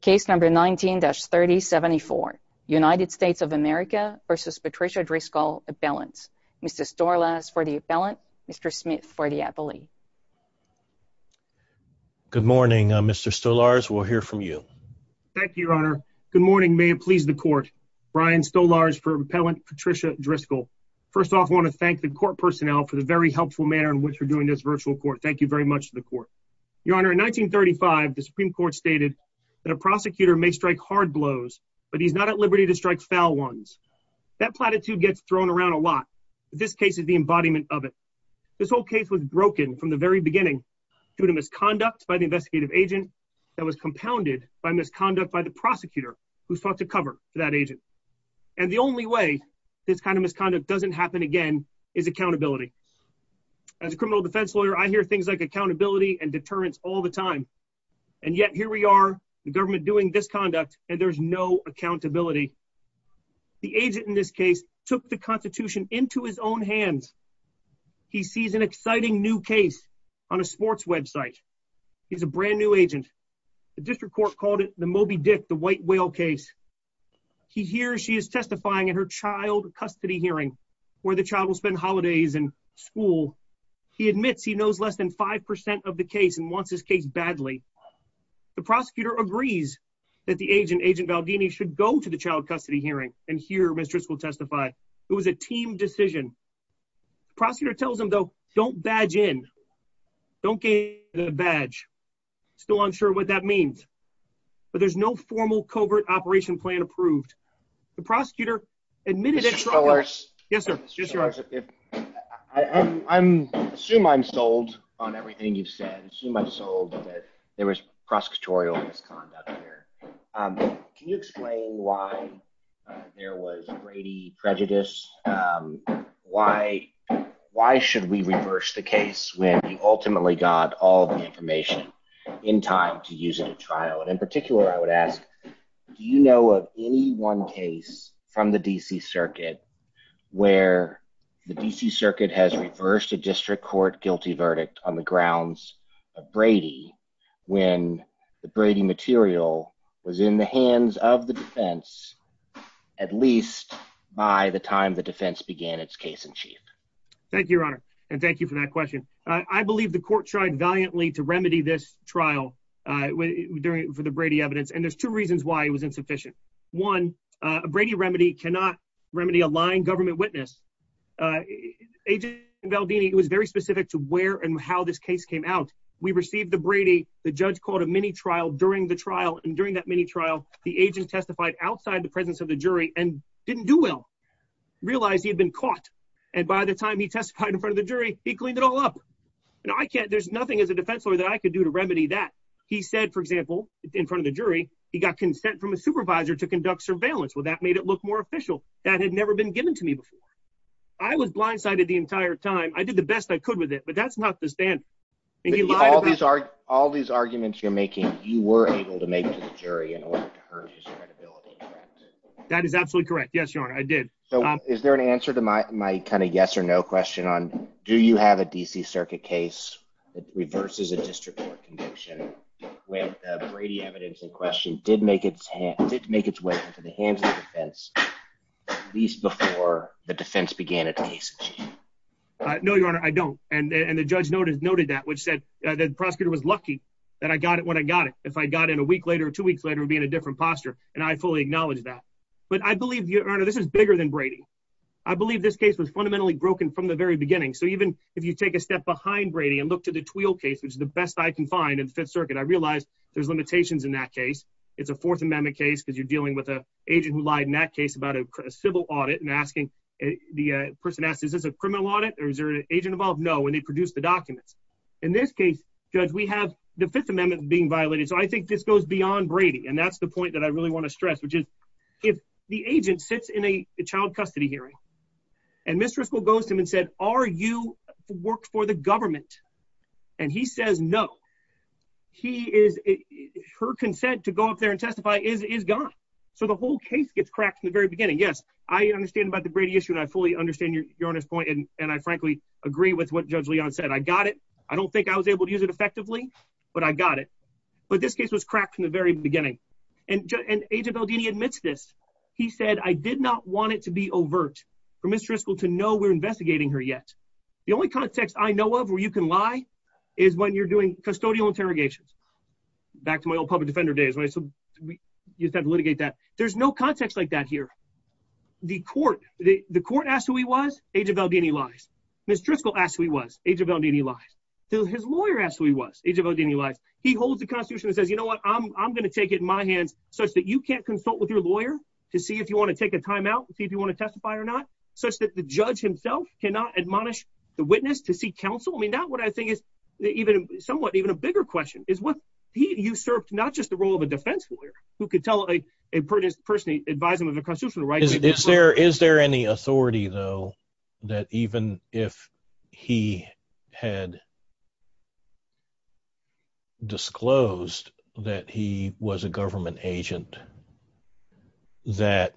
case number 19-3074 United States of America versus Patricia Driscoll appellants. Mr. Stolarz for the appellant, Mr. Smith for the appellee. Good morning, Mr. Stolarz. We'll hear from you. Thank you, Your Honor. Good morning. May it please the court. Brian Stolarz for Appellant Patricia Driscoll. First off, I want to thank the court personnel for the very helpful manner in which we're doing this virtual court. Thank you very much to the court. Your Honor, in 1935, the Supreme Court stated that a prosecutor may strike hard blows, but he's not at liberty to strike foul ones. That platitude gets thrown around a lot. This case is the embodiment of it. This whole case was broken from the very beginning due to misconduct by the investigative agent that was compounded by misconduct by the prosecutor who sought to cover for that agent. And the only way this kind of misconduct doesn't happen again is accountability. As a criminal defense lawyer, I hear things like accountability and deterrence all the time. And yet here we are, the government doing this conduct, and there's no accountability. The agent in this case took the Constitution into his own hands. He sees an exciting new case on a sports website. He's a brand new agent. The district court called it the Moby Dick, the white whale case. He hears she is testifying in her child custody hearing where the child will spend holidays and school. He admits he knows less than 5% of the case and wants his case badly. The prosecutor agrees that the agent, Agent Valdini, should go to the child custody hearing, and here mistress will testify. It was a team decision. Prosecutor tells him, though, Don't badge in. Don't get a badge. Still unsure what that means, but there's no formal covert operation plan approved. The prosecutor admitted it. Yes, sir. I'm assume I'm sold on everything you've said. Too much sold that there was prosecutorial misconduct here. Can you explain why there was Brady prejudice? Why? Why should we reverse the case when you ultimately got all the information in time to use it in trial? And in particular, I would ask, Do you know of any one case from the D. C. Circuit where the D. C. Circuit has reversed a district court guilty verdict on the grounds of Brady when the Brady material was in the hands of the defense, at least by the time the defense began its case in chief? Thank you, Your Honor. And thank you for that question. I believe the court tried valiantly to remedy this trial during for the Brady evidence, and there's two reasons why it was insufficient. One Brady remedy cannot remedy a lying government witness. Uh, agent Valdini was very specific to where and how this case came out. We received the Brady. The judge called a mini trial during the trial, and during that mini trial, the agent testified outside the presence of the jury and didn't do well. Realize he had been caught, and by the time he testified in front of the jury, he cleaned it all up. And I can't. There's nothing as a defense lawyer that I could do to remedy that. He said, for example, in front of the jury, he got consent from a supervisor to conduct surveillance. Well, that made it look more official. That had never been given to me before. I was blindsided the entire time. I did the best I could with it, but that's not the stand. All these are all these arguments you're making. You were able to make jury in order to hurt his credibility. That is absolutely correct. Yes, Your Honor. I did. So is there an answer to my my kind of yes or no question on? Do you have a D. C. Circuit case that reverses a district court conviction with Brady evidence in question? Did make it did make its way into the hands of the least before the defense began a taste. No, Your Honor, I don't. And the judge notice noted that which said that prosecutor was lucky that I got it when I got it. If I got in a week later, two weeks later would be in a different posture, and I fully acknowledge that. But I believe you earn. This is bigger than Brady. I believe this case was fundamentally broken from the very beginning. So even if you take a step behind Brady and look to the twill case, which is the best I can find in Fifth Circuit, I realized there's limitations in that case. It's a Fourth Amendment case because you're dealing with a agent who lied in that case about a civil audit and asking the person asked. Is this a criminal audit? Or is there an agent involved? No. And they produced the documents. In this case, Judge, we have the Fifth Amendment being violated. So I think this goes beyond Brady. And that's the point that I really want to stress, which is if the agent sits in a child custody hearing and mistress will goes to him and said, Are you worked for the government? And he says no, he is. Her consent to go up there and testify is gone. So the whole case gets cracked in the very beginning. Yes, I understand about the Brady issue, and I fully understand your point. And I frankly agree with what Judge Leon said. I got it. I don't think I was able to use it effectively, but I got it. But this case was cracked from the very beginning. And Agent Baldini admits this. He said, I did not want it to be overt for mistress to know we're investigating her yet. The only context I know of where you can lie is when you're doing custodial interrogations. Back to my old public defender days, right? So you have to litigate that. There's no context like that here. The court asked who he was, Agent Baldini lies. Mistress will ask who he was, Agent Baldini lies. So his lawyer asked who he was, Agent Baldini lies. He holds the Constitution and says, You know what? I'm gonna take it in my hands such that you can't consult with your lawyer to see if you wanna take a time out and see if you wanna testify or not, such that the judge himself cannot admonish the witness to seek counsel. I mean, that's what I think is somewhat even a bigger question, is what he usurped, not just the role of a defense lawyer who could tell a person, advise them of their constitutional rights... Is there any authority though, that even if he had disclosed that he was a government agent, that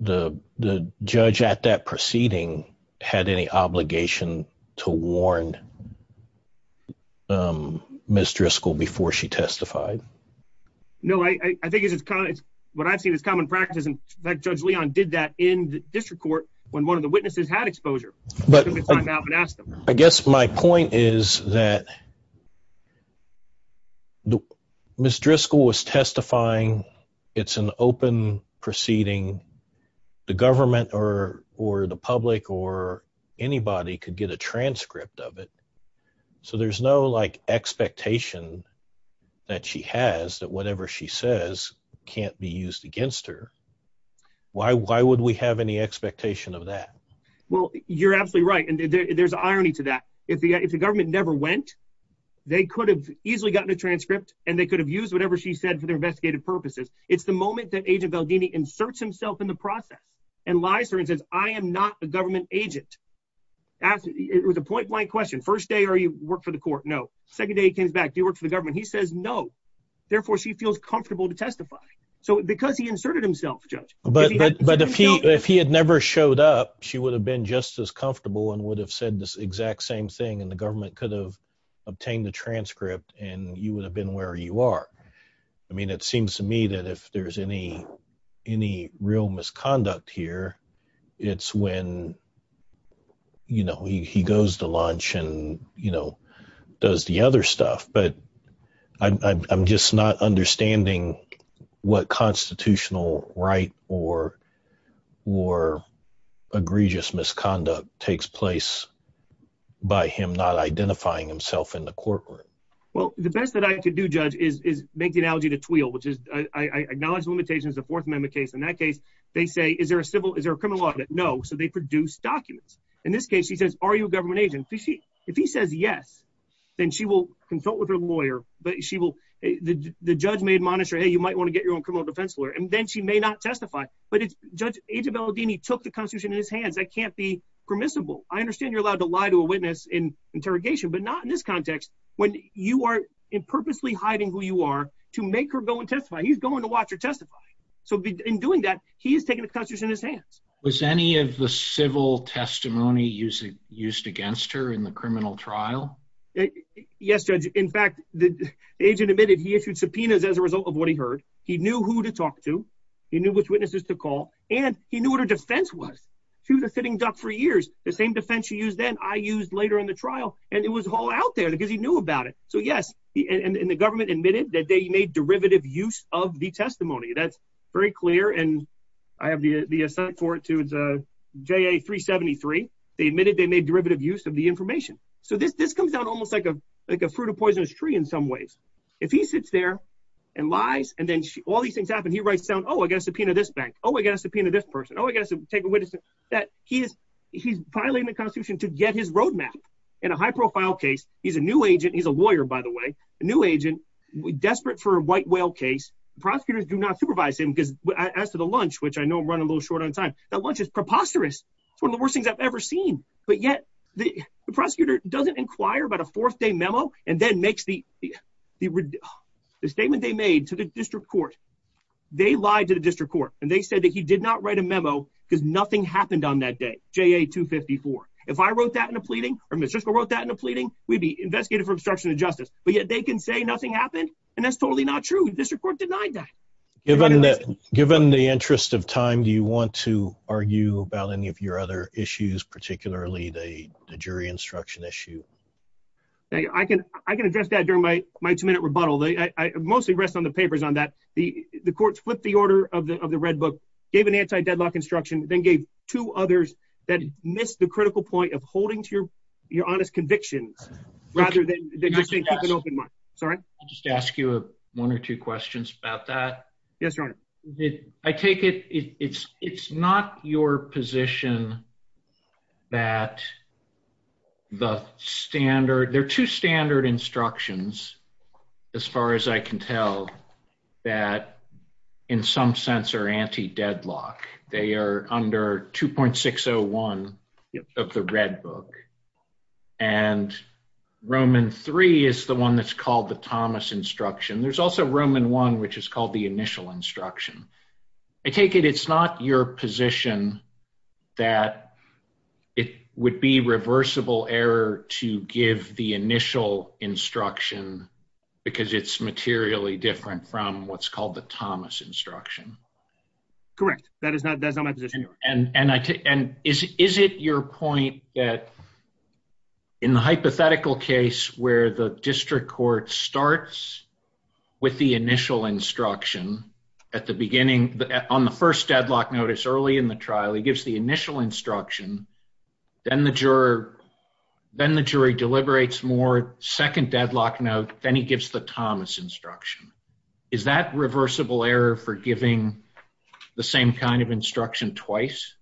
the judge at that proceeding had any obligation to warn Ms. Driscoll before she testified? No, I think what I've seen is common practice, and in fact, Judge Leon did that in the district court when one of the witnesses had exposure. But I guess my point is that Ms. Driscoll was testifying. It's an open proceeding. The government or the public or anybody could get a transcript of it, so there's no expectation that she has that whatever she says can't be used against her. Why would we have any expectation of that? Well, you're absolutely right, and there's irony to that. If the government never went, they could have easily gotten a transcript and they could have used whatever she said for their investigative purposes. It's the moment that Agent Baldini inserts himself in the process and lies to her and says, I am not a government agent. It was a point blank question. First day, are you work for the court? No. Second day, he comes back, do you work for the government? He says, no. Therefore, she feels comfortable to testify. So because he inserted himself, Judge. But if he had never showed up, she would have been just as comfortable and would have said this exact same thing and the government could have obtained the transcript and you would have been where you are. I mean, it seems to me that if there's any real misconduct here, it's when, you know, he goes to lunch and, you know, does the other stuff. But I'm just not understanding what constitutional right or or egregious misconduct takes place by him not identifying himself in the courtroom. Well, the best that I could do, Judge, is make the analogy to Twill, which is I acknowledge the limitations of the Fourth Amendment case. In that case, they say, Is there a civil? Is there a criminal audit? No. So they produce documents. In this case, he says, Are you a government agent? If he says yes, then she will consult with her lawyer, but she will. The judge may admonish her. Hey, you might want to get your own criminal defense lawyer, and then she may not testify. But it's Judge Age of El Dini took the constitution in his hands. I can't be permissible. I understand you're allowed to lie to a witness in interrogation, but not in this context. When you are in purposely hiding who you are to make her go and testify, he's going to watch her testify. So in doing that, he is taking the constitution in his hands. Was any of the civil testimony used against her in the criminal trial? Yes, Judge. In fact, the agent admitted he issued subpoenas as a result of what he heard. He knew who to talk to. He knew which witnesses to call, and he knew what her defense was. She was a sitting duck for years. The same defense she used then, I used later in the trial, and it was all out there because he knew about it. So yes, and the government admitted that they made derivative use of the testimony. That's very clear, and I have the assent for it too. It's JA 373. They admitted they made derivative use of the information. So this comes down almost like a fruit of poisonous tree in some ways. If he sits there and lies, and then all these things happen, he writes down, oh, I got a subpoena this bank. Oh, I got a subpoena this person. Oh, I got to take a witness. He's filing the constitution to get his roadmap. In a high profile case, he's a new agent. He's a lawyer, by the way, a new agent desperate for a white whale case. Prosecutors do not supervise him because as to the lunch, which I know I'm running a little short on time, that lunch is preposterous. It's one of the worst things I've ever seen, but yet the prosecutor doesn't inquire about a fourth day memo and then makes the statement they made to the district court. They lied to the district court, and they said that he did not write a memo because nothing happened on that day, JA 254. If I wrote that in a pleading, or Ms. Driscoll wrote that in a pleading, we'd be investigated for obstruction of justice. But yet they can say nothing happened, and that's totally not true. District court denied that. Given the interest of time, do you want to argue about any of your other issues, particularly the jury instruction issue? I can address that during my two minute rebuttal. I mostly rest on the papers on that. The courts flipped the order of the red book, gave an anti deadlock instruction, then gave two others that missed the critical point of holding to your honest convictions, rather than just saying, keep an open mind. Sorry? I'll just ask you one or two questions about that. Yes, your honor. I take it it's not your position that the standard... There are two standard instructions, as far as I can tell, that in some sense are anti deadlock. They are under 2.601 of the red book. And Roman three is the one that's called the Thomas instruction. There's also Roman one, which is called the initial instruction. I take it it's not your position that it would be reversible error to give the initial instruction, because it's materially different from what's called the Thomas instruction. Correct. That is not my position, your honor. And is it your point that in the hypothetical case where the district court starts with the initial instruction at the beginning, on the first deadlock notice early in the trial, he gives the initial instruction, then the jury deliberates more, second deadlock note, then he gives the Thomas instruction. Is that reversible error for giving the same kind of instruction twice?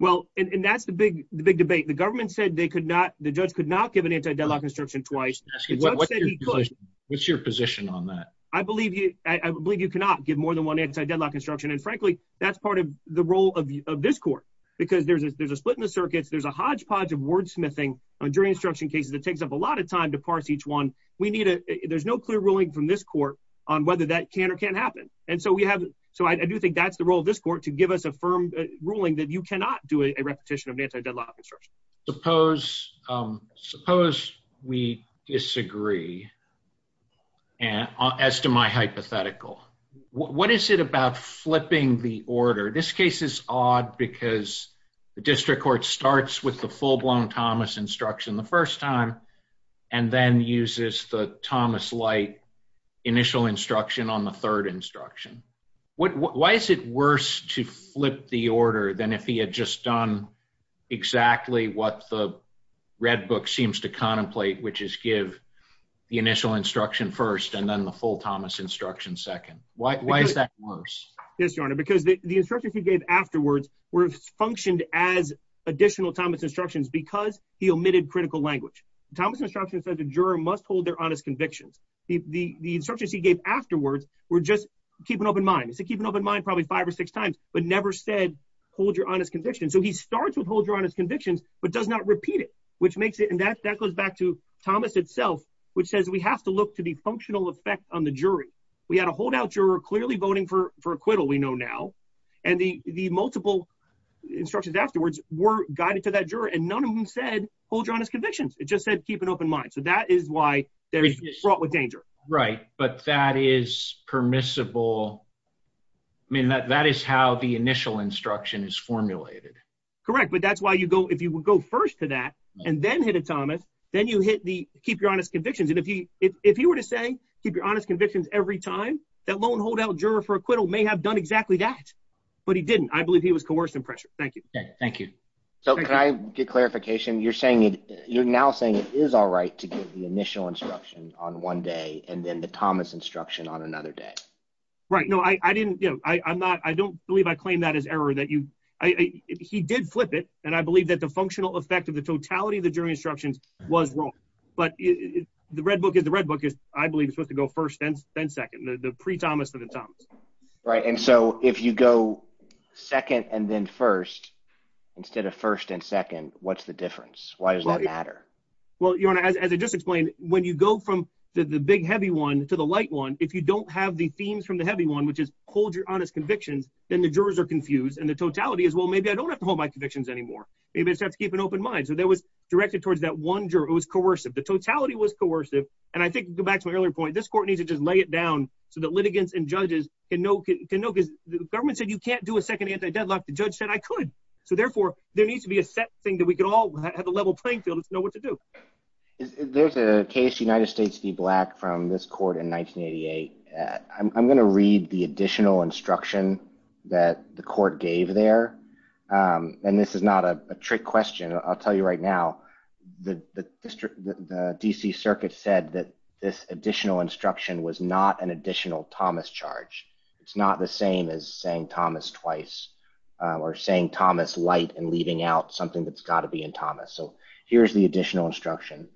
Well, and that's the big debate. The government said they could not... The judge could not give an anti deadlock instruction twice. What's your position on that? I believe you cannot give more than one anti deadlock instruction. And frankly, that's part of the role of this court, because there's a split in the circuits, there's a hodgepodge of wordsmithing during instruction cases that takes up a lot of time to parse each one. There's no clear ruling from this court on whether that can or can't happen. And so I do think that's the role of this court, to give us a firm ruling that you cannot do a repetition of an anti deadlock instruction. Suppose we disagree, as to my hypothetical. What is it about flipping the order? This case is odd because the district court starts with the full blown Thomas instruction the first time, and then uses the Thomas light initial instruction on the third instruction. Why is it worse to flip the order than if he had just done exactly what the Red Book seems to contemplate, which is give the initial instruction first, and then the full Thomas instruction second? Why is that worse? Yes, Your Honor, because the instructions he gave afterwards were functioned as additional Thomas instructions because he omitted critical language. Thomas instruction says the juror must hold their honest convictions. The instructions he gave afterwards were just keep an open mind. He said keep an open mind probably five or six times, but never said hold your honest convictions. So he starts with hold your honest convictions, but does not repeat it, which makes it... And that goes back to Thomas itself, which says we have to look to the functional effect on the jury. We had a holdout juror clearly voting for acquittal, we know now, and the multiple instructions afterwards were guided to that juror, and none of them said hold your honest convictions. It just said keep an open mind. So that is why they're brought with danger. Right, but that is permissible. I mean, that is how the initial instruction is formulated. Correct, but that's why if you would go first to that and then hit a Thomas, then you hit the keep your honest convictions. And if he were to say keep your honest convictions every time, that lone holdout juror for acquittal may have done exactly that, but he didn't. I believe he was coerced in pressure. Thank you. Thank you. So can I get clarification? You're saying you're now saying it is all right to give the initial instruction on one day and then the Thomas instruction on another day. Right, no, I didn't, you know, I'm not... I don't believe I claim that as error that you... He did flip it, and I believe that the functional effect of the totality of the jury instructions was wrong, but the Red Book is... The Red Book is, I believe, supposed to go first then second, the pre-Thomas to the Thomas. Right, and so if you go second and then first, instead of first and second, what's the difference? Why does that matter? Well, Your Honor, as I just explained, when you go from the big heavy one to the light one, if you don't have the themes from the heavy one, which is hold your honest convictions, then the jurors are confused, and the totality is, well, maybe I don't have to hold my convictions anymore. Maybe I just have to keep an open mind. So that was directed towards that one juror. It was coercive. The totality was lay it down so that litigants and judges can know... The government said, you can't do a second anti deadlock. The judge said, I could. So therefore, there needs to be a set thing that we could all have a level playing field to know what to do. There's a case, United States v. Black, from this court in 1988. I'm gonna read the additional instruction that the court gave there, and this is not a trick question. I'll tell you right now, the DC Circuit said that this additional instruction was not an additional Thomas charge. It's not the same as saying Thomas twice or saying Thomas light and leaving out something that's got to be in Thomas. So here's the additional instruction.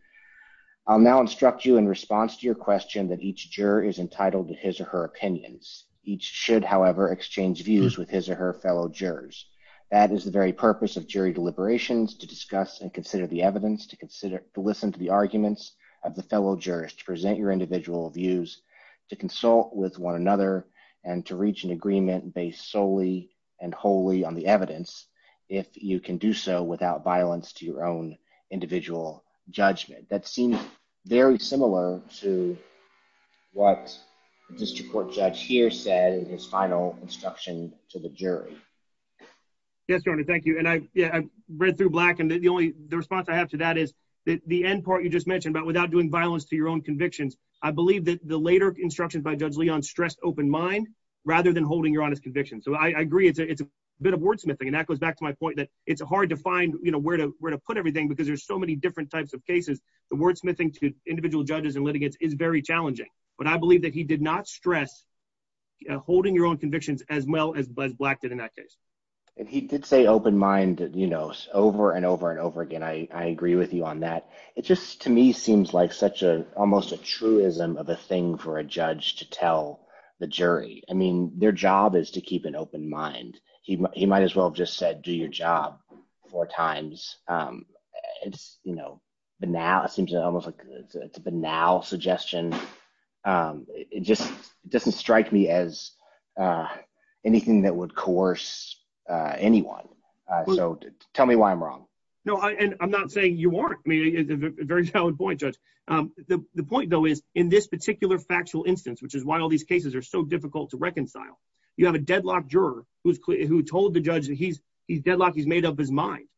I'll now instruct you in response to your question that each juror is entitled to his or her opinions. Each should, however, exchange views with his or her fellow jurors. That is the very purpose of jury deliberations, to discuss and consider the evidence, to listen to the arguments of the fellow jurors, to present your individual views, to consult with one another, and to reach an agreement based solely and wholly on the evidence, if you can do so without violence to your own individual judgment. That seems very similar to what the District Court judge here said in his final instruction to the jury. Yes, Your Honor, I think the answer to that is the end part you just mentioned about without doing violence to your own convictions, I believe that the later instructions by Judge Leon stressed open mind rather than holding your honest convictions. So I agree it's a bit of wordsmithing, and that goes back to my point that it's hard to find, you know, where to put everything because there's so many different types of cases. The wordsmithing to individual judges and litigants is very challenging, but I believe that he did not stress holding your own convictions as well as Buzz Black did in that case. And he did say open mind, you know, over and over and over again. I agree with you on that. It just, to me, seems like such a, almost a truism of a thing for a judge to tell the jury. I mean, their job is to keep an open mind. He might as well just said do your job four times. It's, you know, banal. It seems almost like it's a banal suggestion. It just doesn't strike me as anything that would coerce anyone. So tell me why I'm wrong. No, I'm not saying you weren't. I mean, it's a very valid point, Judge. The point, though, is in this particular factual instance, which is why all these cases are so difficult to reconcile, you have a deadlocked juror who told the judge that he's deadlocked, he's made up his mind.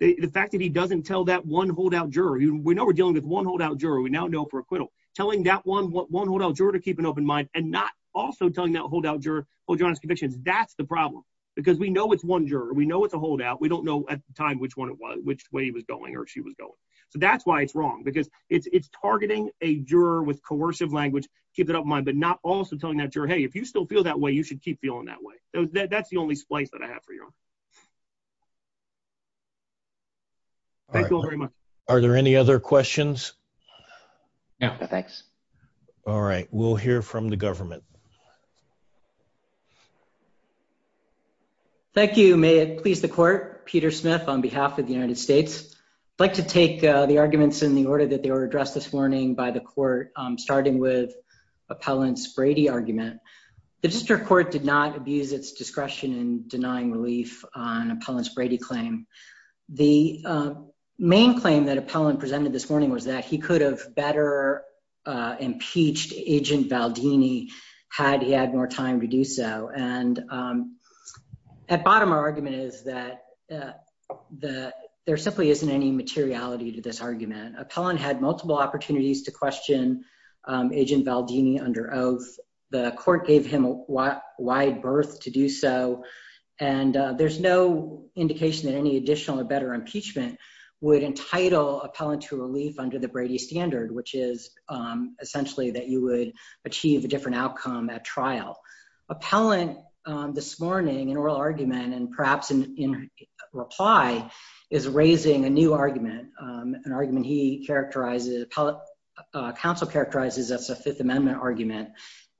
The fact that he doesn't tell that one holdout juror, we know we're dealing with one holdout juror, we now know for acquittal. Telling that one holdout juror to keep an open mind and not also telling that holdout juror to hold your honest convictions, that's the problem. Because we know it's one with a holdout. We don't know at the time which one it was, which way he was going or she was going. So that's why it's wrong. Because it's targeting a juror with coercive language, keep it up in mind, but not also telling that juror, hey, if you still feel that way, you should keep feeling that way. That's the only splice that I have for you. Thank you all very much. Are there any other questions? No, thanks. All right, we'll hear from the government. Thank you. May it please the court. Peter Smith on behalf of the United States. I'd like to take the arguments in the order that they were addressed this morning by the court, starting with Appellant's Brady argument. The district court did not abuse its discretion in denying relief on Appellant's Brady claim. The main claim that Appellant presented this morning was that he could have better impeached Agent Valdini had he had more time to do so. And at bottom, our argument is that there simply isn't any materiality to this argument. Appellant had multiple opportunities to question Agent Valdini under oath. The court gave him a wide berth to do so. And there's no indication that any additional or better impeachment would entitle Appellant to the Brady standard, which is essentially that you would achieve a different outcome at trial. Appellant, this morning, in oral argument and perhaps in reply, is raising a new argument, an argument he characterizes, counsel characterizes as a Fifth Amendment argument.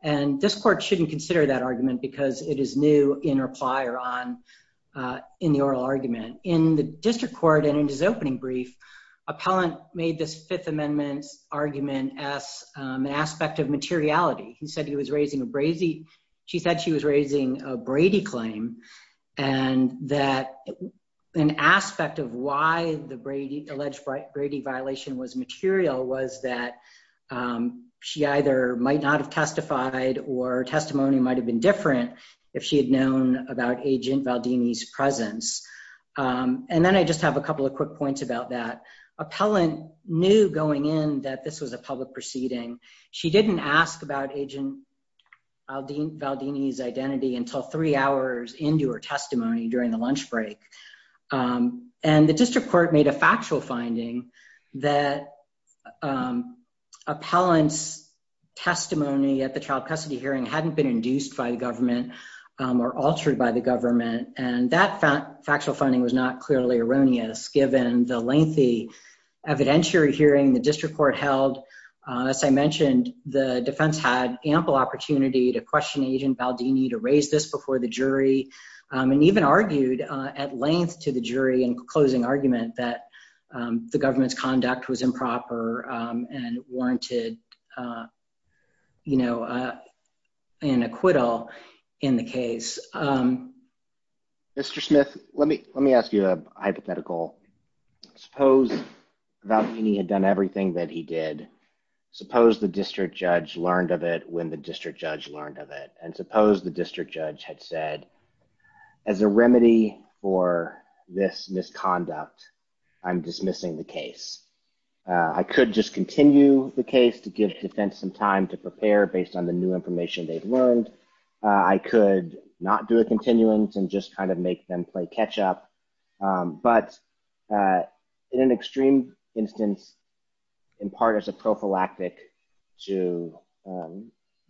And this court shouldn't consider that argument because it is new in reply or on in the oral argument. In the district court and in his opening brief, Appellant made this Fifth Amendment argument as an aspect of materiality. He said he was raising a Brady, she said she was raising a Brady claim and that an aspect of why the Brady, alleged Brady violation was material was that she either might not have testified or testimony might have been different if she had known about Agent Valdini's presence. And then I just have a couple of quick points about that. Appellant knew going in that this was a public proceeding. She didn't ask about Agent Valdini's identity until three hours into her testimony during the lunch break. And the district court made a factual finding that Appellant's testimony at the child custody hearing hadn't been induced by the government or altered by the given the lengthy evidentiary hearing the district court held. As I mentioned, the defense had ample opportunity to question Agent Valdini to raise this before the jury and even argued at length to the jury in closing argument that the government's conduct was improper and warranted, you know, an acquittal in the case. Mr. Smith, let me let me ask you a hypothetical. Suppose Valdini had done everything that he did. Suppose the district judge learned of it when the district judge learned of it. And suppose the district judge had said as a remedy for this misconduct, I'm dismissing the case. I could just continue the case to give defense some time to prepare based on the new evidence. I could not do a continuance and just kind of make them play catch-up. But in an extreme instance, in part as a prophylactic to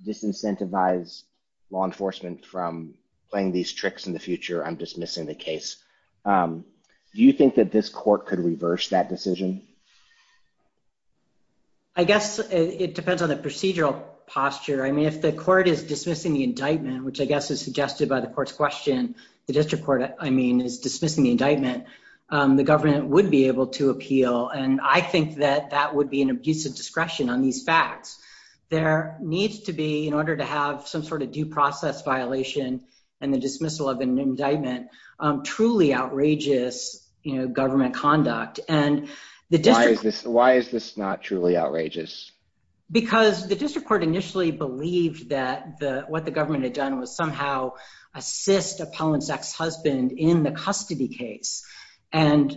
disincentivize law enforcement from playing these tricks in the future, I'm dismissing the case. Do you think that this court could reverse that decision? I guess it depends on the indictment, which I guess is suggested by the court's question. The district court, I mean, is dismissing the indictment. The government would be able to appeal and I think that that would be an abuse of discretion on these facts. There needs to be, in order to have some sort of due process violation and the dismissal of an indictment, truly outrageous, you know, government conduct. And the district... Why is this not truly outrageous? Because the district court initially believed that what the government had done was somehow assist Appellant's ex-husband in the custody case. And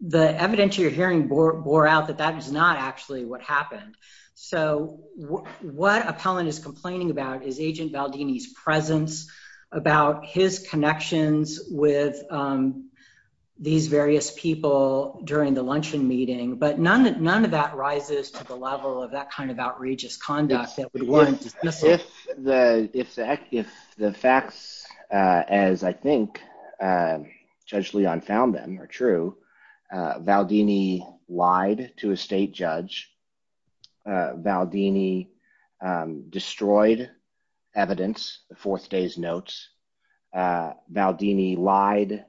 the evidence you're hearing bore out that that is not actually what happened. So what Appellant is complaining about is Agent Baldini's presence, about his connections with these various people during the luncheon meeting, but none of that rises to the level of that kind of outrageous conduct that would warrant dismissal. If the facts, as I think Judge Leon found them, are true, Baldini lied to a state judge, Baldini destroyed evidence, the fourth day's notes, Baldini lied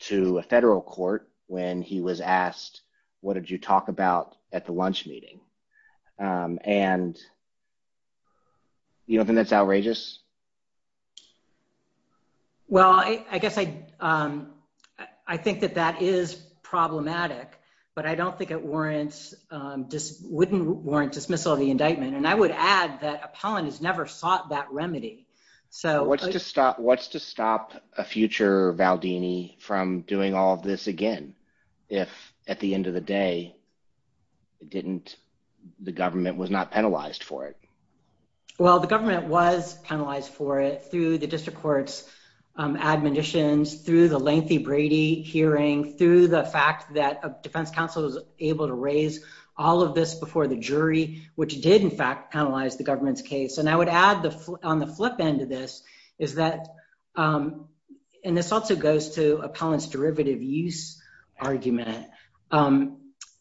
to a federal court when he was asked, what did you talk about at the lunch meeting? And you don't think that's outrageous? Well, I guess I think that that is problematic, but I don't think it warrants, wouldn't warrant dismissal of the indictment. And I would add that Appellant has never sought that remedy. So... What's to stop, a future Baldini from doing all of this again, if at the end of the day, it didn't, the government was not penalized for it? Well, the government was penalized for it through the district court's admonitions, through the lengthy Brady hearing, through the fact that a defense counsel was able to raise all of this before the jury, which did in fact penalize the government's case. And I would add on the flip end of this is that, and this also goes to Appellant's derivative use argument,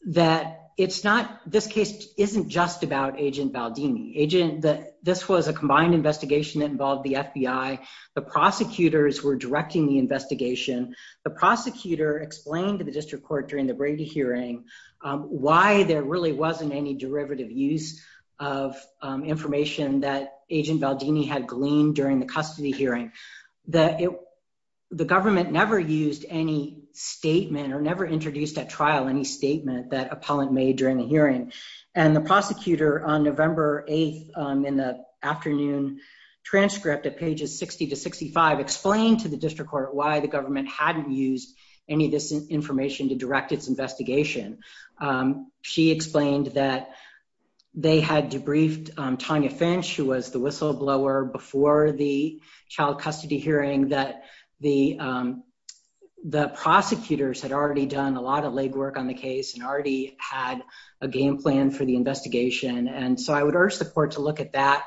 that it's not, this case isn't just about Agent Baldini. Agent, that this was a combined investigation that involved the FBI. The prosecutors were directing the investigation. The prosecutor explained to the district court during the Brady hearing, why there really wasn't any derivative use of information that Agent Baldini had gleaned during the custody hearing. That it, the government never used any statement or never introduced at trial any statement that Appellant made during the hearing. And the prosecutor on November 8th, in the afternoon transcript at pages 60 to 65, explained to the district court why the government hadn't used any of this information to direct its investigation. She explained that they had debriefed Tonya Finch, who was the whistleblower before the child custody hearing, that the, the prosecutors had already done a lot of legwork on the case and already had a game plan for the investigation. And so I would urge the court to look at that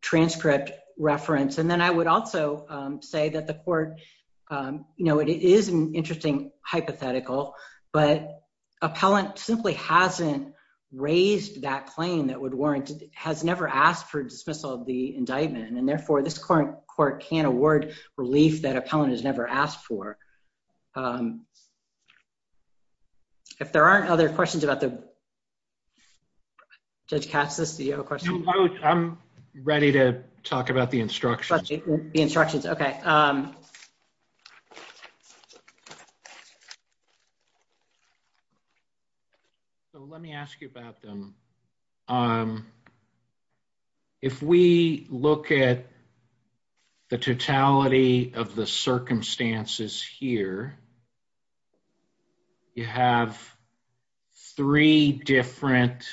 transcript reference. And then I would also say that the court, you know, it is an interesting hypothetical, but Appellant simply hasn't raised that claim that would warrant, has never asked for dismissal of the indictment. And therefore this court can't award relief that Appellant has never asked for. If there aren't other questions about the, Judge Katsas, do you have a question? I'm ready to talk about the instructions. The instructions. Okay. So let me ask you about them. If we look at the totality of the circumstances here, you have three different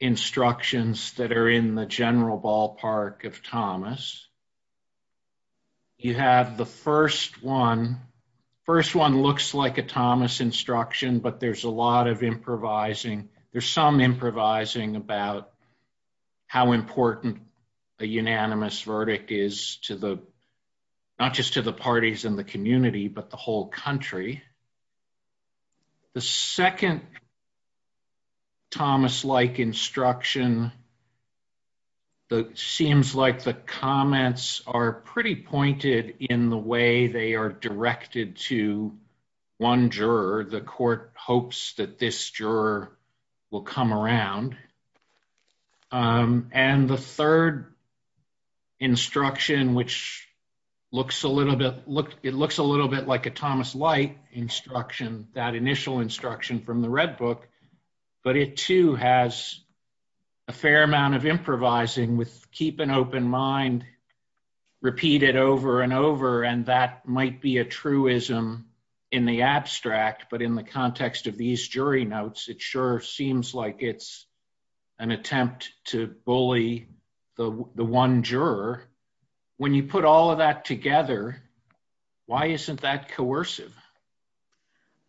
instructions that are in the general ballpark of Thomas. You have the first one, first one looks like a Thomas instruction, but there's a lot of improvising. There's some improvising about how important a unanimous verdict is to the, not just to the parties in the community, but the whole country. The second Thomas-like instruction, that seems like the comments are pretty pointed in the way they are directed to one juror. The court hopes that this juror will come around. And the third instruction, which looks a little bit, it looks a little bit like a Thomas-like instruction, that initial instruction from the Red Book, but it too has a fair amount of improvising with keep an open mind repeated over and over. And that might be a truism in the abstract, but in the context of these jury notes, it sure seems like it's an attempt to bully the one juror. When you put all of that together, why isn't that coercive?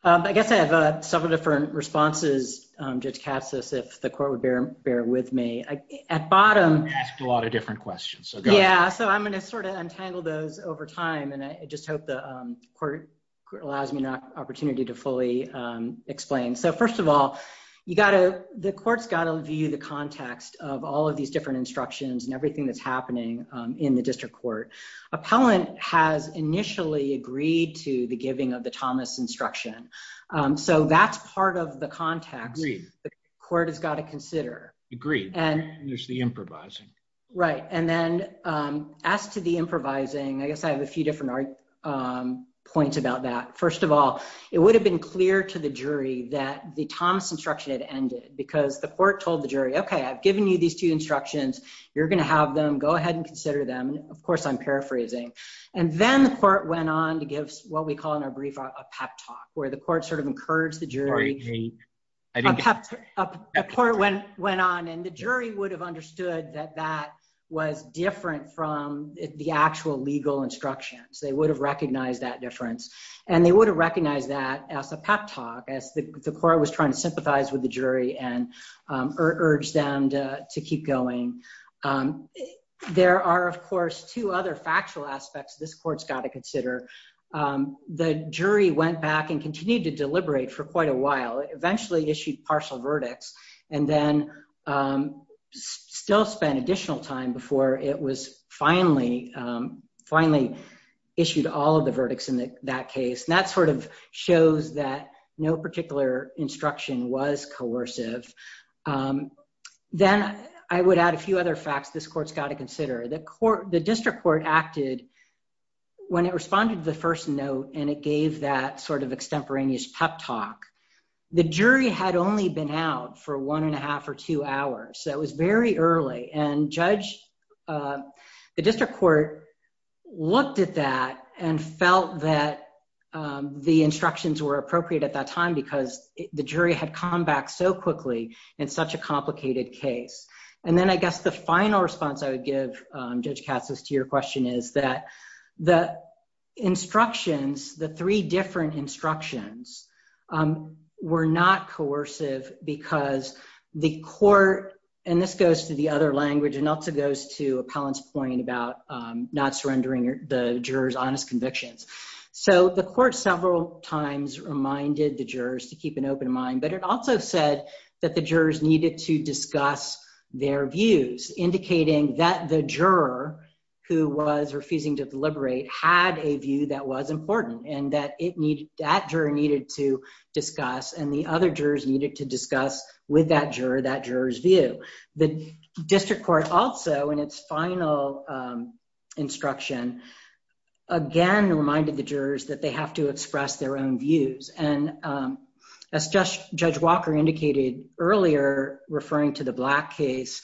I guess I have several different responses, Judge Katsas, if the court would bear with me. At bottom... I asked a lot of different questions, so go ahead. Yeah, so I'm gonna sort of untangle those over time, and I just hope the court allows me an opportunity to fully explain. So first of all, the court's gotta view the context of all of these different instructions and everything that's happening in the district court. Appellant has initially agreed to the giving of the Thomas instruction, so that's part of the context... Agreed. The court has gotta consider. Agreed. And... And there's the improvising. Right. And then as to the improvising, I guess I have a few different points about that. First of all, it would have been clear to the jury that the Thomas instruction had ended because the court told the jury, okay, I've given you these two instructions, you're gonna have them, go ahead and consider them. Of course, I'm paraphrasing. And then the court went on to give what we call in our brief a pep talk, where the court sort of encouraged the jury... A pep talk. A pep talk. A court went on, and the jury would have understood that that was different from the actual legal instructions. They would have recognized that difference, and they would have recognized that as a pep talk, as the court was trying to sympathize with the jury and urge them to keep going. There are, of course, two other factual aspects this court's gotta consider. The jury went back and continued to deliberate for quite a while. It eventually issued partial verdicts, and then still spent additional time before it was finally... Finally issued all of the verdicts in that case. And that sort of shows that no particular instruction was coercive. Then I would add a few other facts this court's gotta consider. The district court acted... When it responded to the first note, and it gave that sort of extemporaneous pep talk, the jury had only been out for one and a half or two hours. That was very early, and judge... The district court looked at that and felt that the instructions were appropriate at that time because the jury had come back so quickly in such a complicated case. And then I guess the final response I would give, Judge Katsos, to your question is that the instructions, the three different instructions, were not coercive because the court... And this goes to the other language and also goes to Appellant's point about not surrendering the juror's honest convictions. So the court several times reminded the jurors to keep an open mind, but it also said that the jurors needed to discuss their views, indicating that the juror who was refusing to deliberate had a view that was important, and that it needed... That juror needed to discuss, and the other jurors needed to discuss with that juror that juror's view. The district court also, in its final instruction, again reminded the jurors that they have to express their own views. And as Judge Walker indicated earlier, referring to the Black case,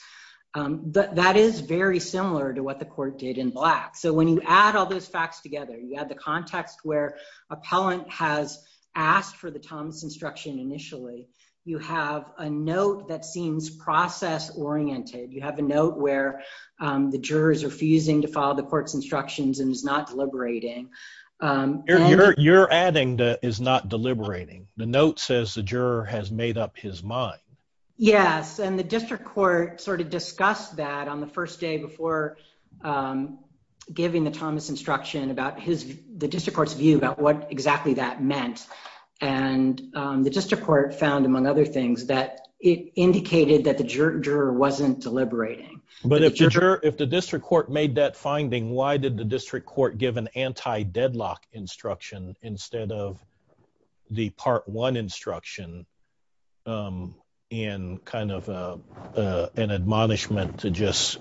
that is very similar to what the court did in Black. So when you add all those facts together, you add the context where Appellant has asked for the Thomas instruction initially, you have a note that seems process oriented. You have a note where the juror is refusing to follow the court's instructions and is not deliberating. You're adding that is not deliberating. The note says the juror has made up his mind. Yes, and the district court discussed that on the first day before giving the Thomas instruction about the district court's view about what exactly that meant. And the district court found, among other things, that it indicated that the juror wasn't deliberating. But if the district court made that finding, why did the district court give an anti deadlock instruction instead of the part one instruction in kind of an admonishment to just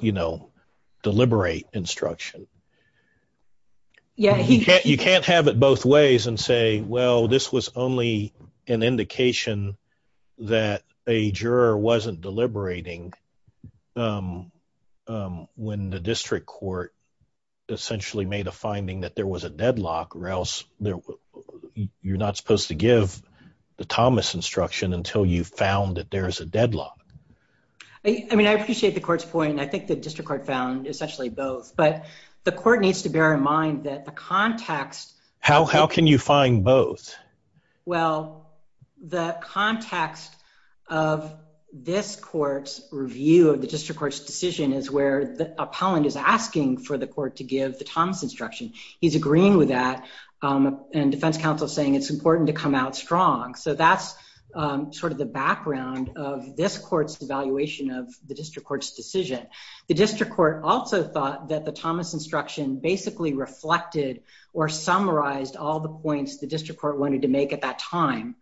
deliberate instruction? Yeah, you can't have it both ways and say, well, this was only an indication that a juror wasn't deliberating when the district court essentially made a finding that there was a deadlock or else you're not supposed to give the Thomas instruction until you've found that there is a deadlock. I mean, I appreciate the court's point. I think the district court found essentially both. But the court needs to bear in mind that the context. How? How can you find both? Well, the context of this court's review of the district court's decision is where the appellant is asking for the court to give the Thomas instruction. He's agreeing with that. And defense counsel saying it's important to come out strong. So that's sort of the background of this court's evaluation of the district court's decision. The district court also thought that the Thomas instruction basically reflected or summarized all the points the district court wanted to make at that time.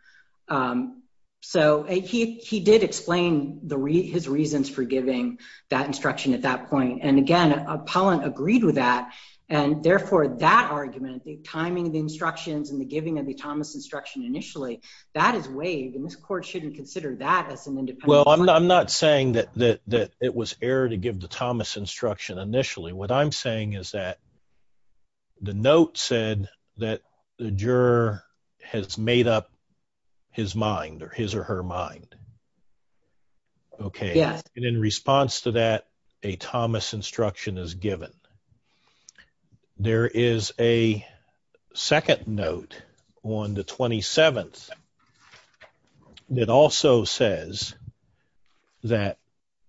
So he did explain his reasons for giving that instruction at that point. And again, appellant agreed with that. And therefore, that argument, the timing of the instructions and the giving of the Thomas instruction initially, that is waived. And this court shouldn't consider that as an error. I'm not saying that it was error to give the Thomas instruction initially. What I'm saying is that the note said that the juror has made up his mind or his or her mind. Okay. And in response to that, a Thomas instruction is given. There is a second note on the 27th that also says that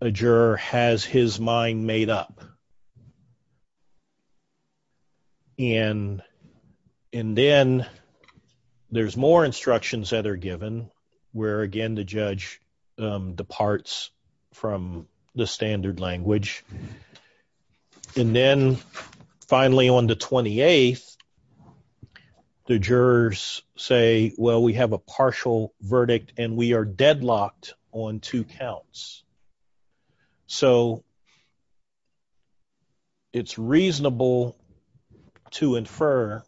a juror has his mind made up. And then there's more instructions that are given where, again, the judge departs from the standard language. And then finally, on the 28th, the jurors say, well, we have a partial verdict and we are deadlocked on two counts. So it's reasonable to infer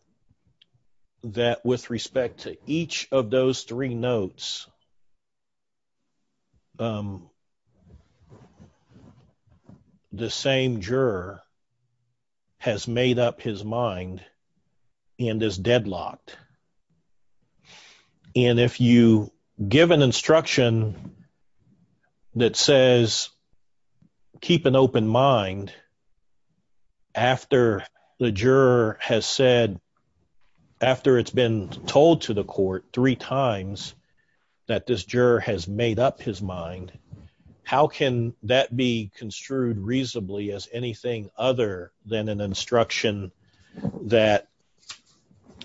that with respect to each of those three notes, the same juror has made up his mind and is deadlocked. And if you give an instruction that says, keep an open mind after the juror has said, after it's been told to the court three times that this juror has made up his mind, how can that be construed reasonably as anything other than an instruction that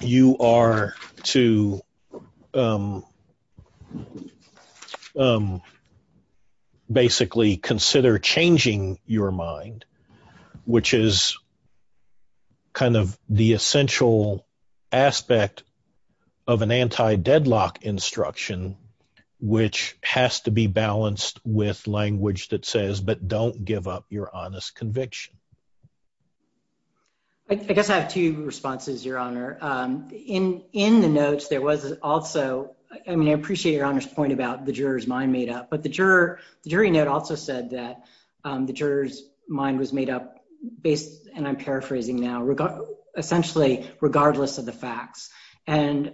you are to basically consider changing your mind, which is kind of the essential aspect of an anti-deadlock instruction, which has to be balanced with language that says, but don't give up your honest conviction. I guess I have two responses, Your Honor. In the notes, there was also, I mean, I agree with Your Honor's point about the juror's mind made up, but the jury note also said that the juror's mind was made up based, and I'm paraphrasing now, essentially regardless of the facts. And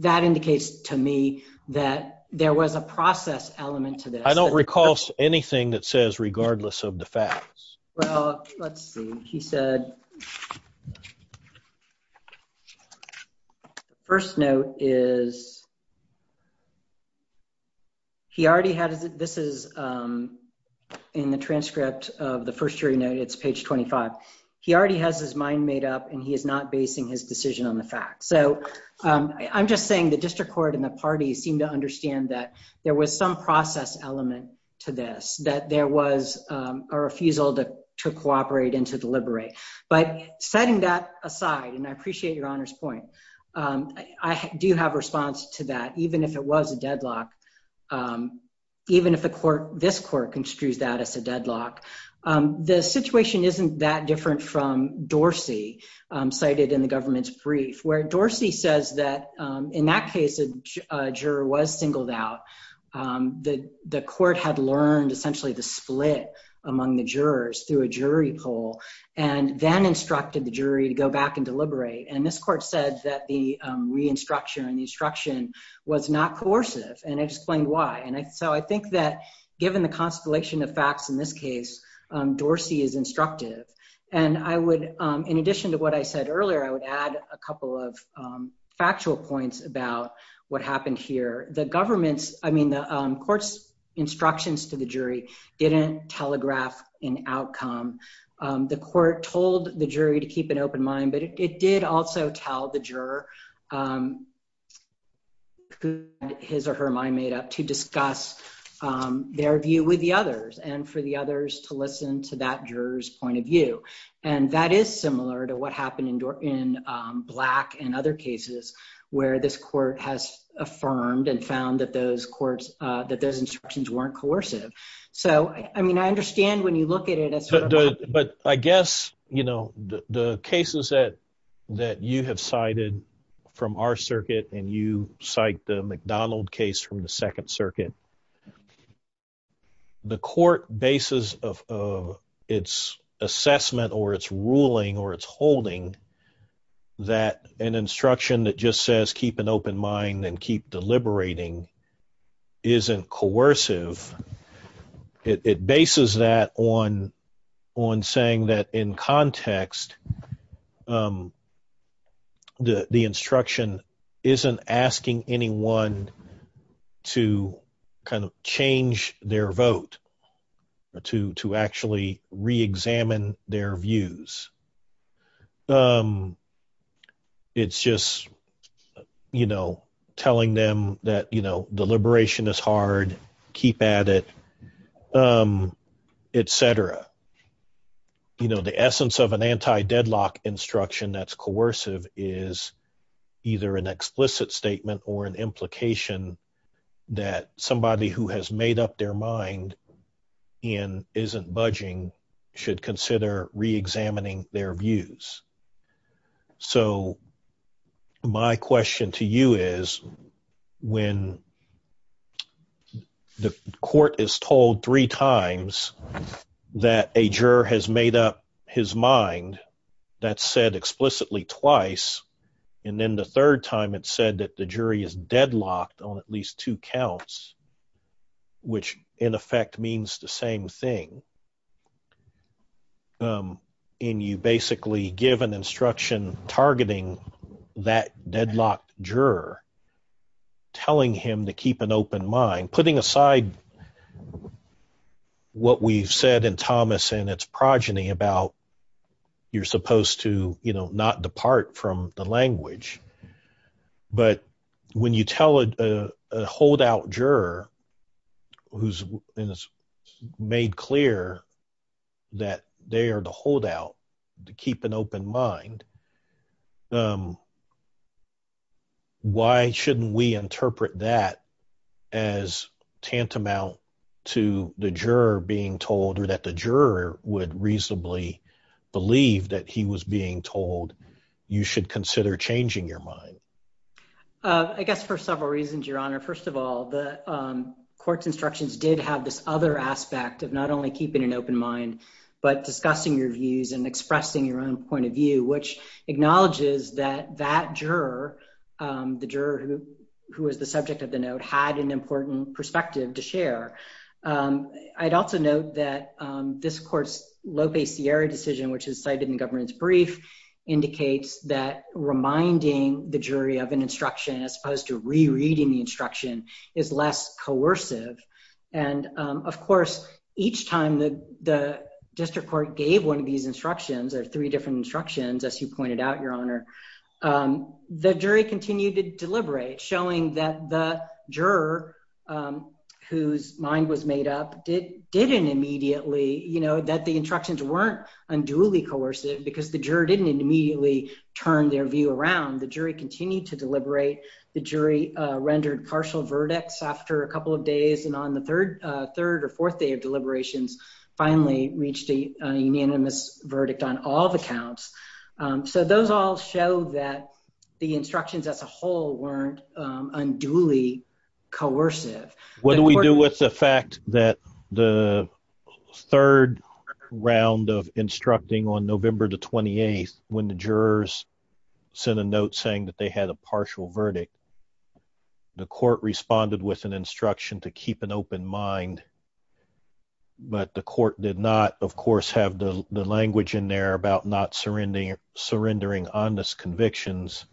that indicates to me that there was a process element to this. I don't recall anything that says regardless of the facts. Well, let's see. He said, first note is, he already had, this is in the transcript of the first jury note, it's page 25. He already has his mind made up and he is not basing his decision on the facts. So I'm just saying the district court and the parties seem to understand that there was some process element to this, that there was a refusal to cooperate and to deliberate. But setting that aside, and I appreciate Your Honor's point, I do have response to that, even if it was a deadlock, even if the court, this court, construes that as a deadlock. The situation isn't that different from Dorsey, cited in the government's brief, where Dorsey says that in that case, a juror was singled out. The court had learned essentially the split among the jurors through a jury poll, and then instructed the jury to go back and deliberate. And this court said that the re-instruction and the instruction was not coercive, and it explained why. And so I think that given the constellation of facts in this case, Dorsey is instructive. And I would, in addition to what I said earlier, I would add a couple of factual points about what happened here. The government's, I mean, the court's instructions to the jury didn't telegraph an outcome. The court told the jury to keep an open mind, but it did also tell the juror his or her mind made up to discuss their view with the others and for the others to what happened in Black and other cases, where this court has affirmed and found that those courts, that those instructions weren't coercive. So, I mean, I understand when you look at it. But I guess, you know, the cases that that you have cited from our circuit, and you cite the McDonald case from the Second Circuit, the court basis of its assessment or its holding, that an instruction that just says, keep an open mind and keep deliberating isn't coercive. It bases that on, on saying that in context, the instruction isn't asking anyone to kind of change their vote, to actually re-examine their views. It's just, you know, telling them that, you know, deliberation is hard, keep at it, etc. You know, the essence of an anti-deadlock instruction that's coercive is either an explicit statement or an implication that somebody who has made up their mind and isn't budging should consider re-examining their views. So my question to you is, when the court is told three times that a that said explicitly twice, and then the third time it said that the jury is deadlocked on at least two counts, which in effect means the same thing, and you basically give an instruction targeting that deadlocked juror, telling him to keep an open mind, putting aside what we've in Thomas and its progeny about, you're supposed to, you know, not depart from the language. But when you tell a holdout juror, who's made clear that they are the holdout, to keep an open mind, why shouldn't we interpret that as tantamount to the juror being told or that the juror would reasonably believe that he was being told, you should consider changing your mind? I guess for several reasons, Your Honor. First of all, the court's instructions did have this other aspect of not only keeping an open mind, but discussing your views and expressing your own point of view, which acknowledges that that juror, the juror who was the subject of the chair. I'd also note that this court's Lope Sierra decision, which is cited in the governance brief, indicates that reminding the jury of an instruction as opposed to rereading the instruction is less coercive. And of course, each time the district court gave one of these instructions, or three different instructions, as you pointed out, Your Honor, the jury continued to deliberate, showing that the juror whose mind was made up didn't immediately, you know, that the instructions weren't unduly coercive, because the juror didn't immediately turn their view around. The jury continued to deliberate, the jury rendered partial verdicts after a couple of days, and on the third, third or fourth day of deliberations, finally reached a the instructions as a whole weren't unduly coercive. What do we do with the fact that the third round of instructing on November the 28th, when the jurors sent a note saying that they had a partial verdict, the court responded with an instruction to keep an open mind. But the court did not, of course, have the language in there about not surrendering honest convictions.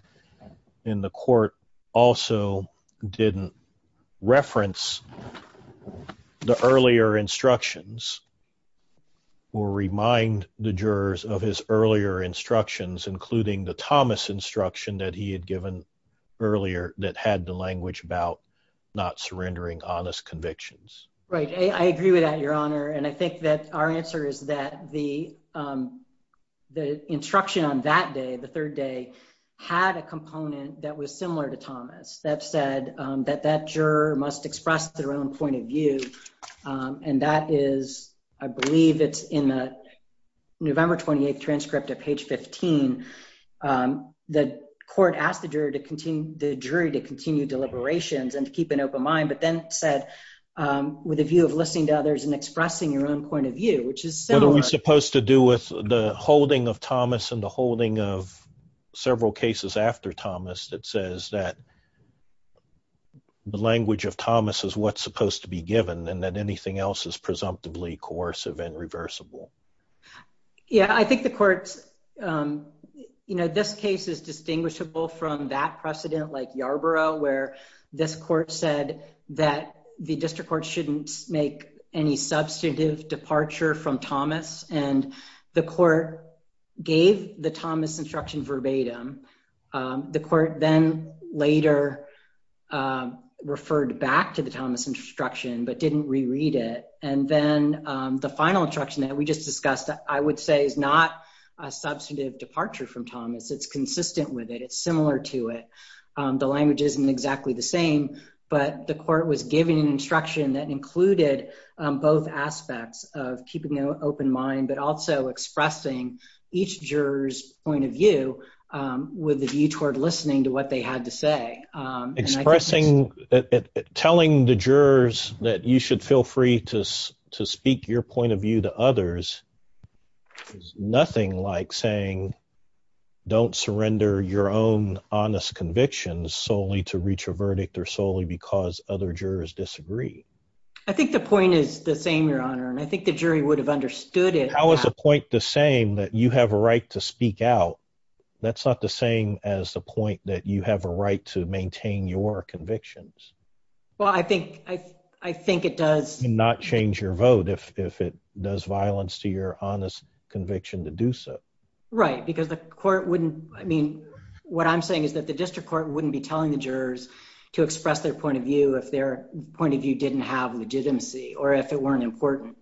And the court also didn't reference the earlier instructions, or remind the jurors of his earlier instructions, including the Thomas instruction that he had given earlier that had the language about not surrendering honest convictions. Right, I agree with that, Your Honor. And I think that our answer is that the, the instruction on that day, the third day, had a component that was similar to Thomas that said that that juror must express their own point of view. And that is, I believe it's in the November 28th transcript at page 15. The court asked the jury to continue the jury to continue deliberations and to keep an open mind, but then said, with a view of listening to others and expressing your own point of view, which is similar. What are we supposed to do with the holding of Thomas and the holding of several cases after Thomas that says that the language of Thomas is what's supposed to be given and that anything else is presumptively coercive and reversible? Yeah, I think the court's, you know, this case is distinguishable from that precedent like Yarborough, where this court said that the district court shouldn't make any substantive departure from Thomas and the court gave the Thomas instruction verbatim. The court then later referred back to the Thomas instruction, but didn't reread it. And then the final instruction that we just discussed, I would say, is not a substantive departure from Thomas. It's consistent with it. It's similar to it. The language isn't exactly the same, but the court was giving an instruction that included both aspects of keeping an open mind, but also expressing each juror's point of view with the view toward listening to what they had to say. Expressing, telling the jurors that you should feel free to speak your point of view to others is nothing like saying don't surrender your own honest convictions solely to reach a verdict or solely because other jurors disagree. I think the point is the same, Your Honor, and I think the jury would have understood it. How is the point the same that you have a right to speak out? That's not the same as the point that you have a right to maintain your convictions. Well, I think it does. Not change your vote if it does violence to your honest conviction to do so. Right, because the court wouldn't, I mean, what I'm saying is that the district court wouldn't be telling the jurors to express their point of view if their point of view didn't have legitimacy or if it weren't important.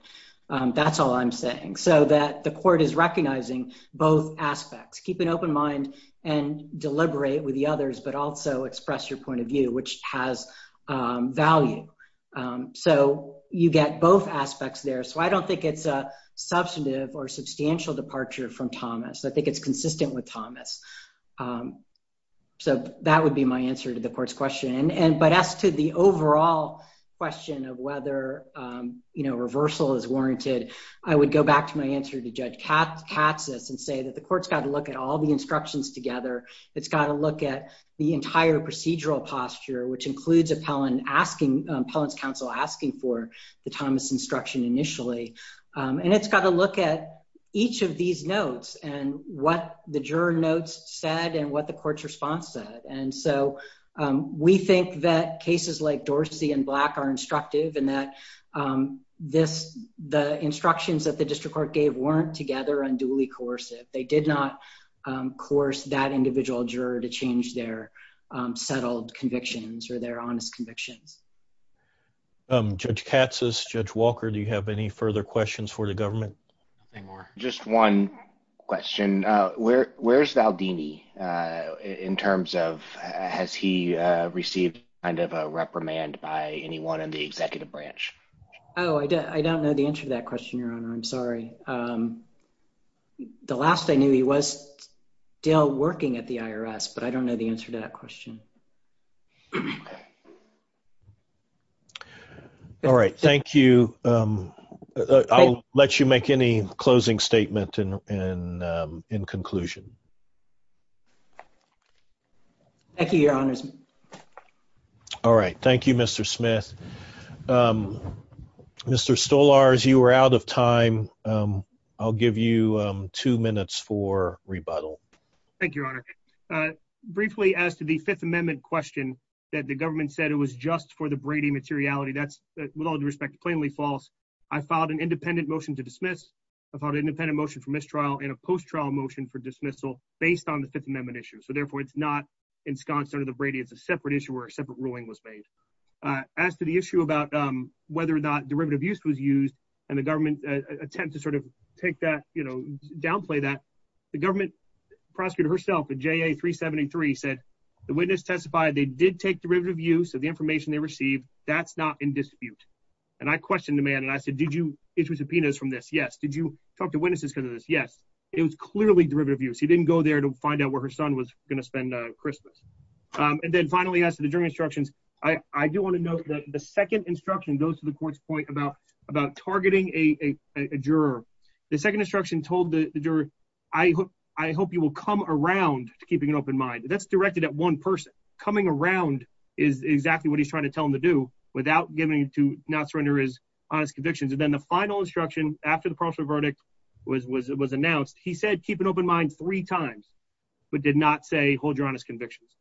That's all I'm saying. So that the court is recognizing both aspects. Keep an open mind and deliberate with the others, but also express your point of view, which has value. So you get both aspects there. So I don't think it's a substantive or substantial departure from Thomas. I think it's consistent with Thomas. So that would be my answer to the court's question. And but as to the overall question of whether, you know, reversal is warranted, I would go back to my answer to Judge Katsas and say that the court's got to look at all the instructions together. It's got to look at the entire procedural posture, which includes appellant asking, appellant's counsel asking for the Thomas instruction initially. And it's got to look at each of these notes and what the juror notes said and what the court's response said. And so we think that cases like Dorsey and Black are instructive and that this, the instructions that the district court gave weren't together and duly coercive. They did not coerce that individual juror to change their settled convictions or their honest convictions. Judge Katsas, Judge Walker, do you have any further questions for the government? Just one question. Where's Valdini in terms of, has he received kind of a reprimand by anyone in the executive branch? Oh, I don't know the answer to that question, I'm sorry. The last I knew he was still working at the IRS, but I don't know the answer to that question. All right. Thank you. I'll let you make any closing statement in conclusion. Thank you, your honors. All right. Thank you, Mr. Smith. Mr. Stolarz, you were out of time. I'll give you two minutes for rebuttal. Thank you, your honor. Briefly as to the fifth amendment question that the government said it was just for the Brady materiality, that's with all due respect, plainly false. I filed an independent motion to dismiss. I filed an independent motion for mistrial and a post-trial motion for dismissal based on the fifth amendment issue. So therefore it's not ensconced under the Brady. It's a separate issue where a separate ruling was made. As to the issue about whether or not derivative use was used and the government attempt to sort of take that, you know, downplay that, the government prosecutor herself at JA 373 said the witness testified they did take derivative use of the information they received. That's not in dispute. And I questioned the man and I said, did you issue subpoenas from this? Yes. Did you talk to witnesses because of this? Yes. It was clearly derivative use. He didn't go there to find out where her son was going to spend Christmas. And then finally, as to the jury instructions, I do want to note that the second instruction goes to the court's point about targeting a juror. The second instruction told the juror, I hope you will come around to keeping an open mind. That's directed at one person. Coming around is exactly what he's trying to tell him to do without giving to not surrender his honest convictions. And then the final instruction after the prosecutor verdict was announced, he said, keep an open mind three times, but did not say, hold your honest convictions.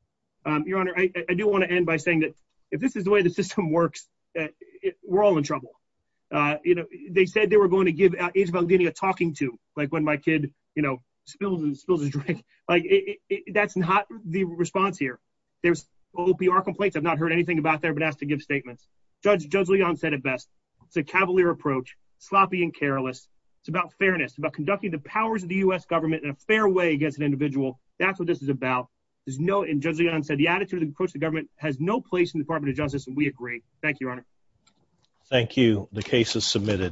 Your honor, I do want to end by saying that if this is the way the system works, we're all in trouble. You know, they said they were going to give a talking to like when my kid, you know, spills and spills his drink. Like that's not the response here. There's OPR complaints. I've not heard anything about there, but asked to give statements. Judge Leon said it best. It's a cavalier approach, sloppy and careless. It's about fairness, about conducting the powers of the U.S. government in a fair way against an individual. That's what this is about. There's no, and judge Leon said the attitude of the approach to government has no place in the department of justice. And we agree. Thank you, your honor.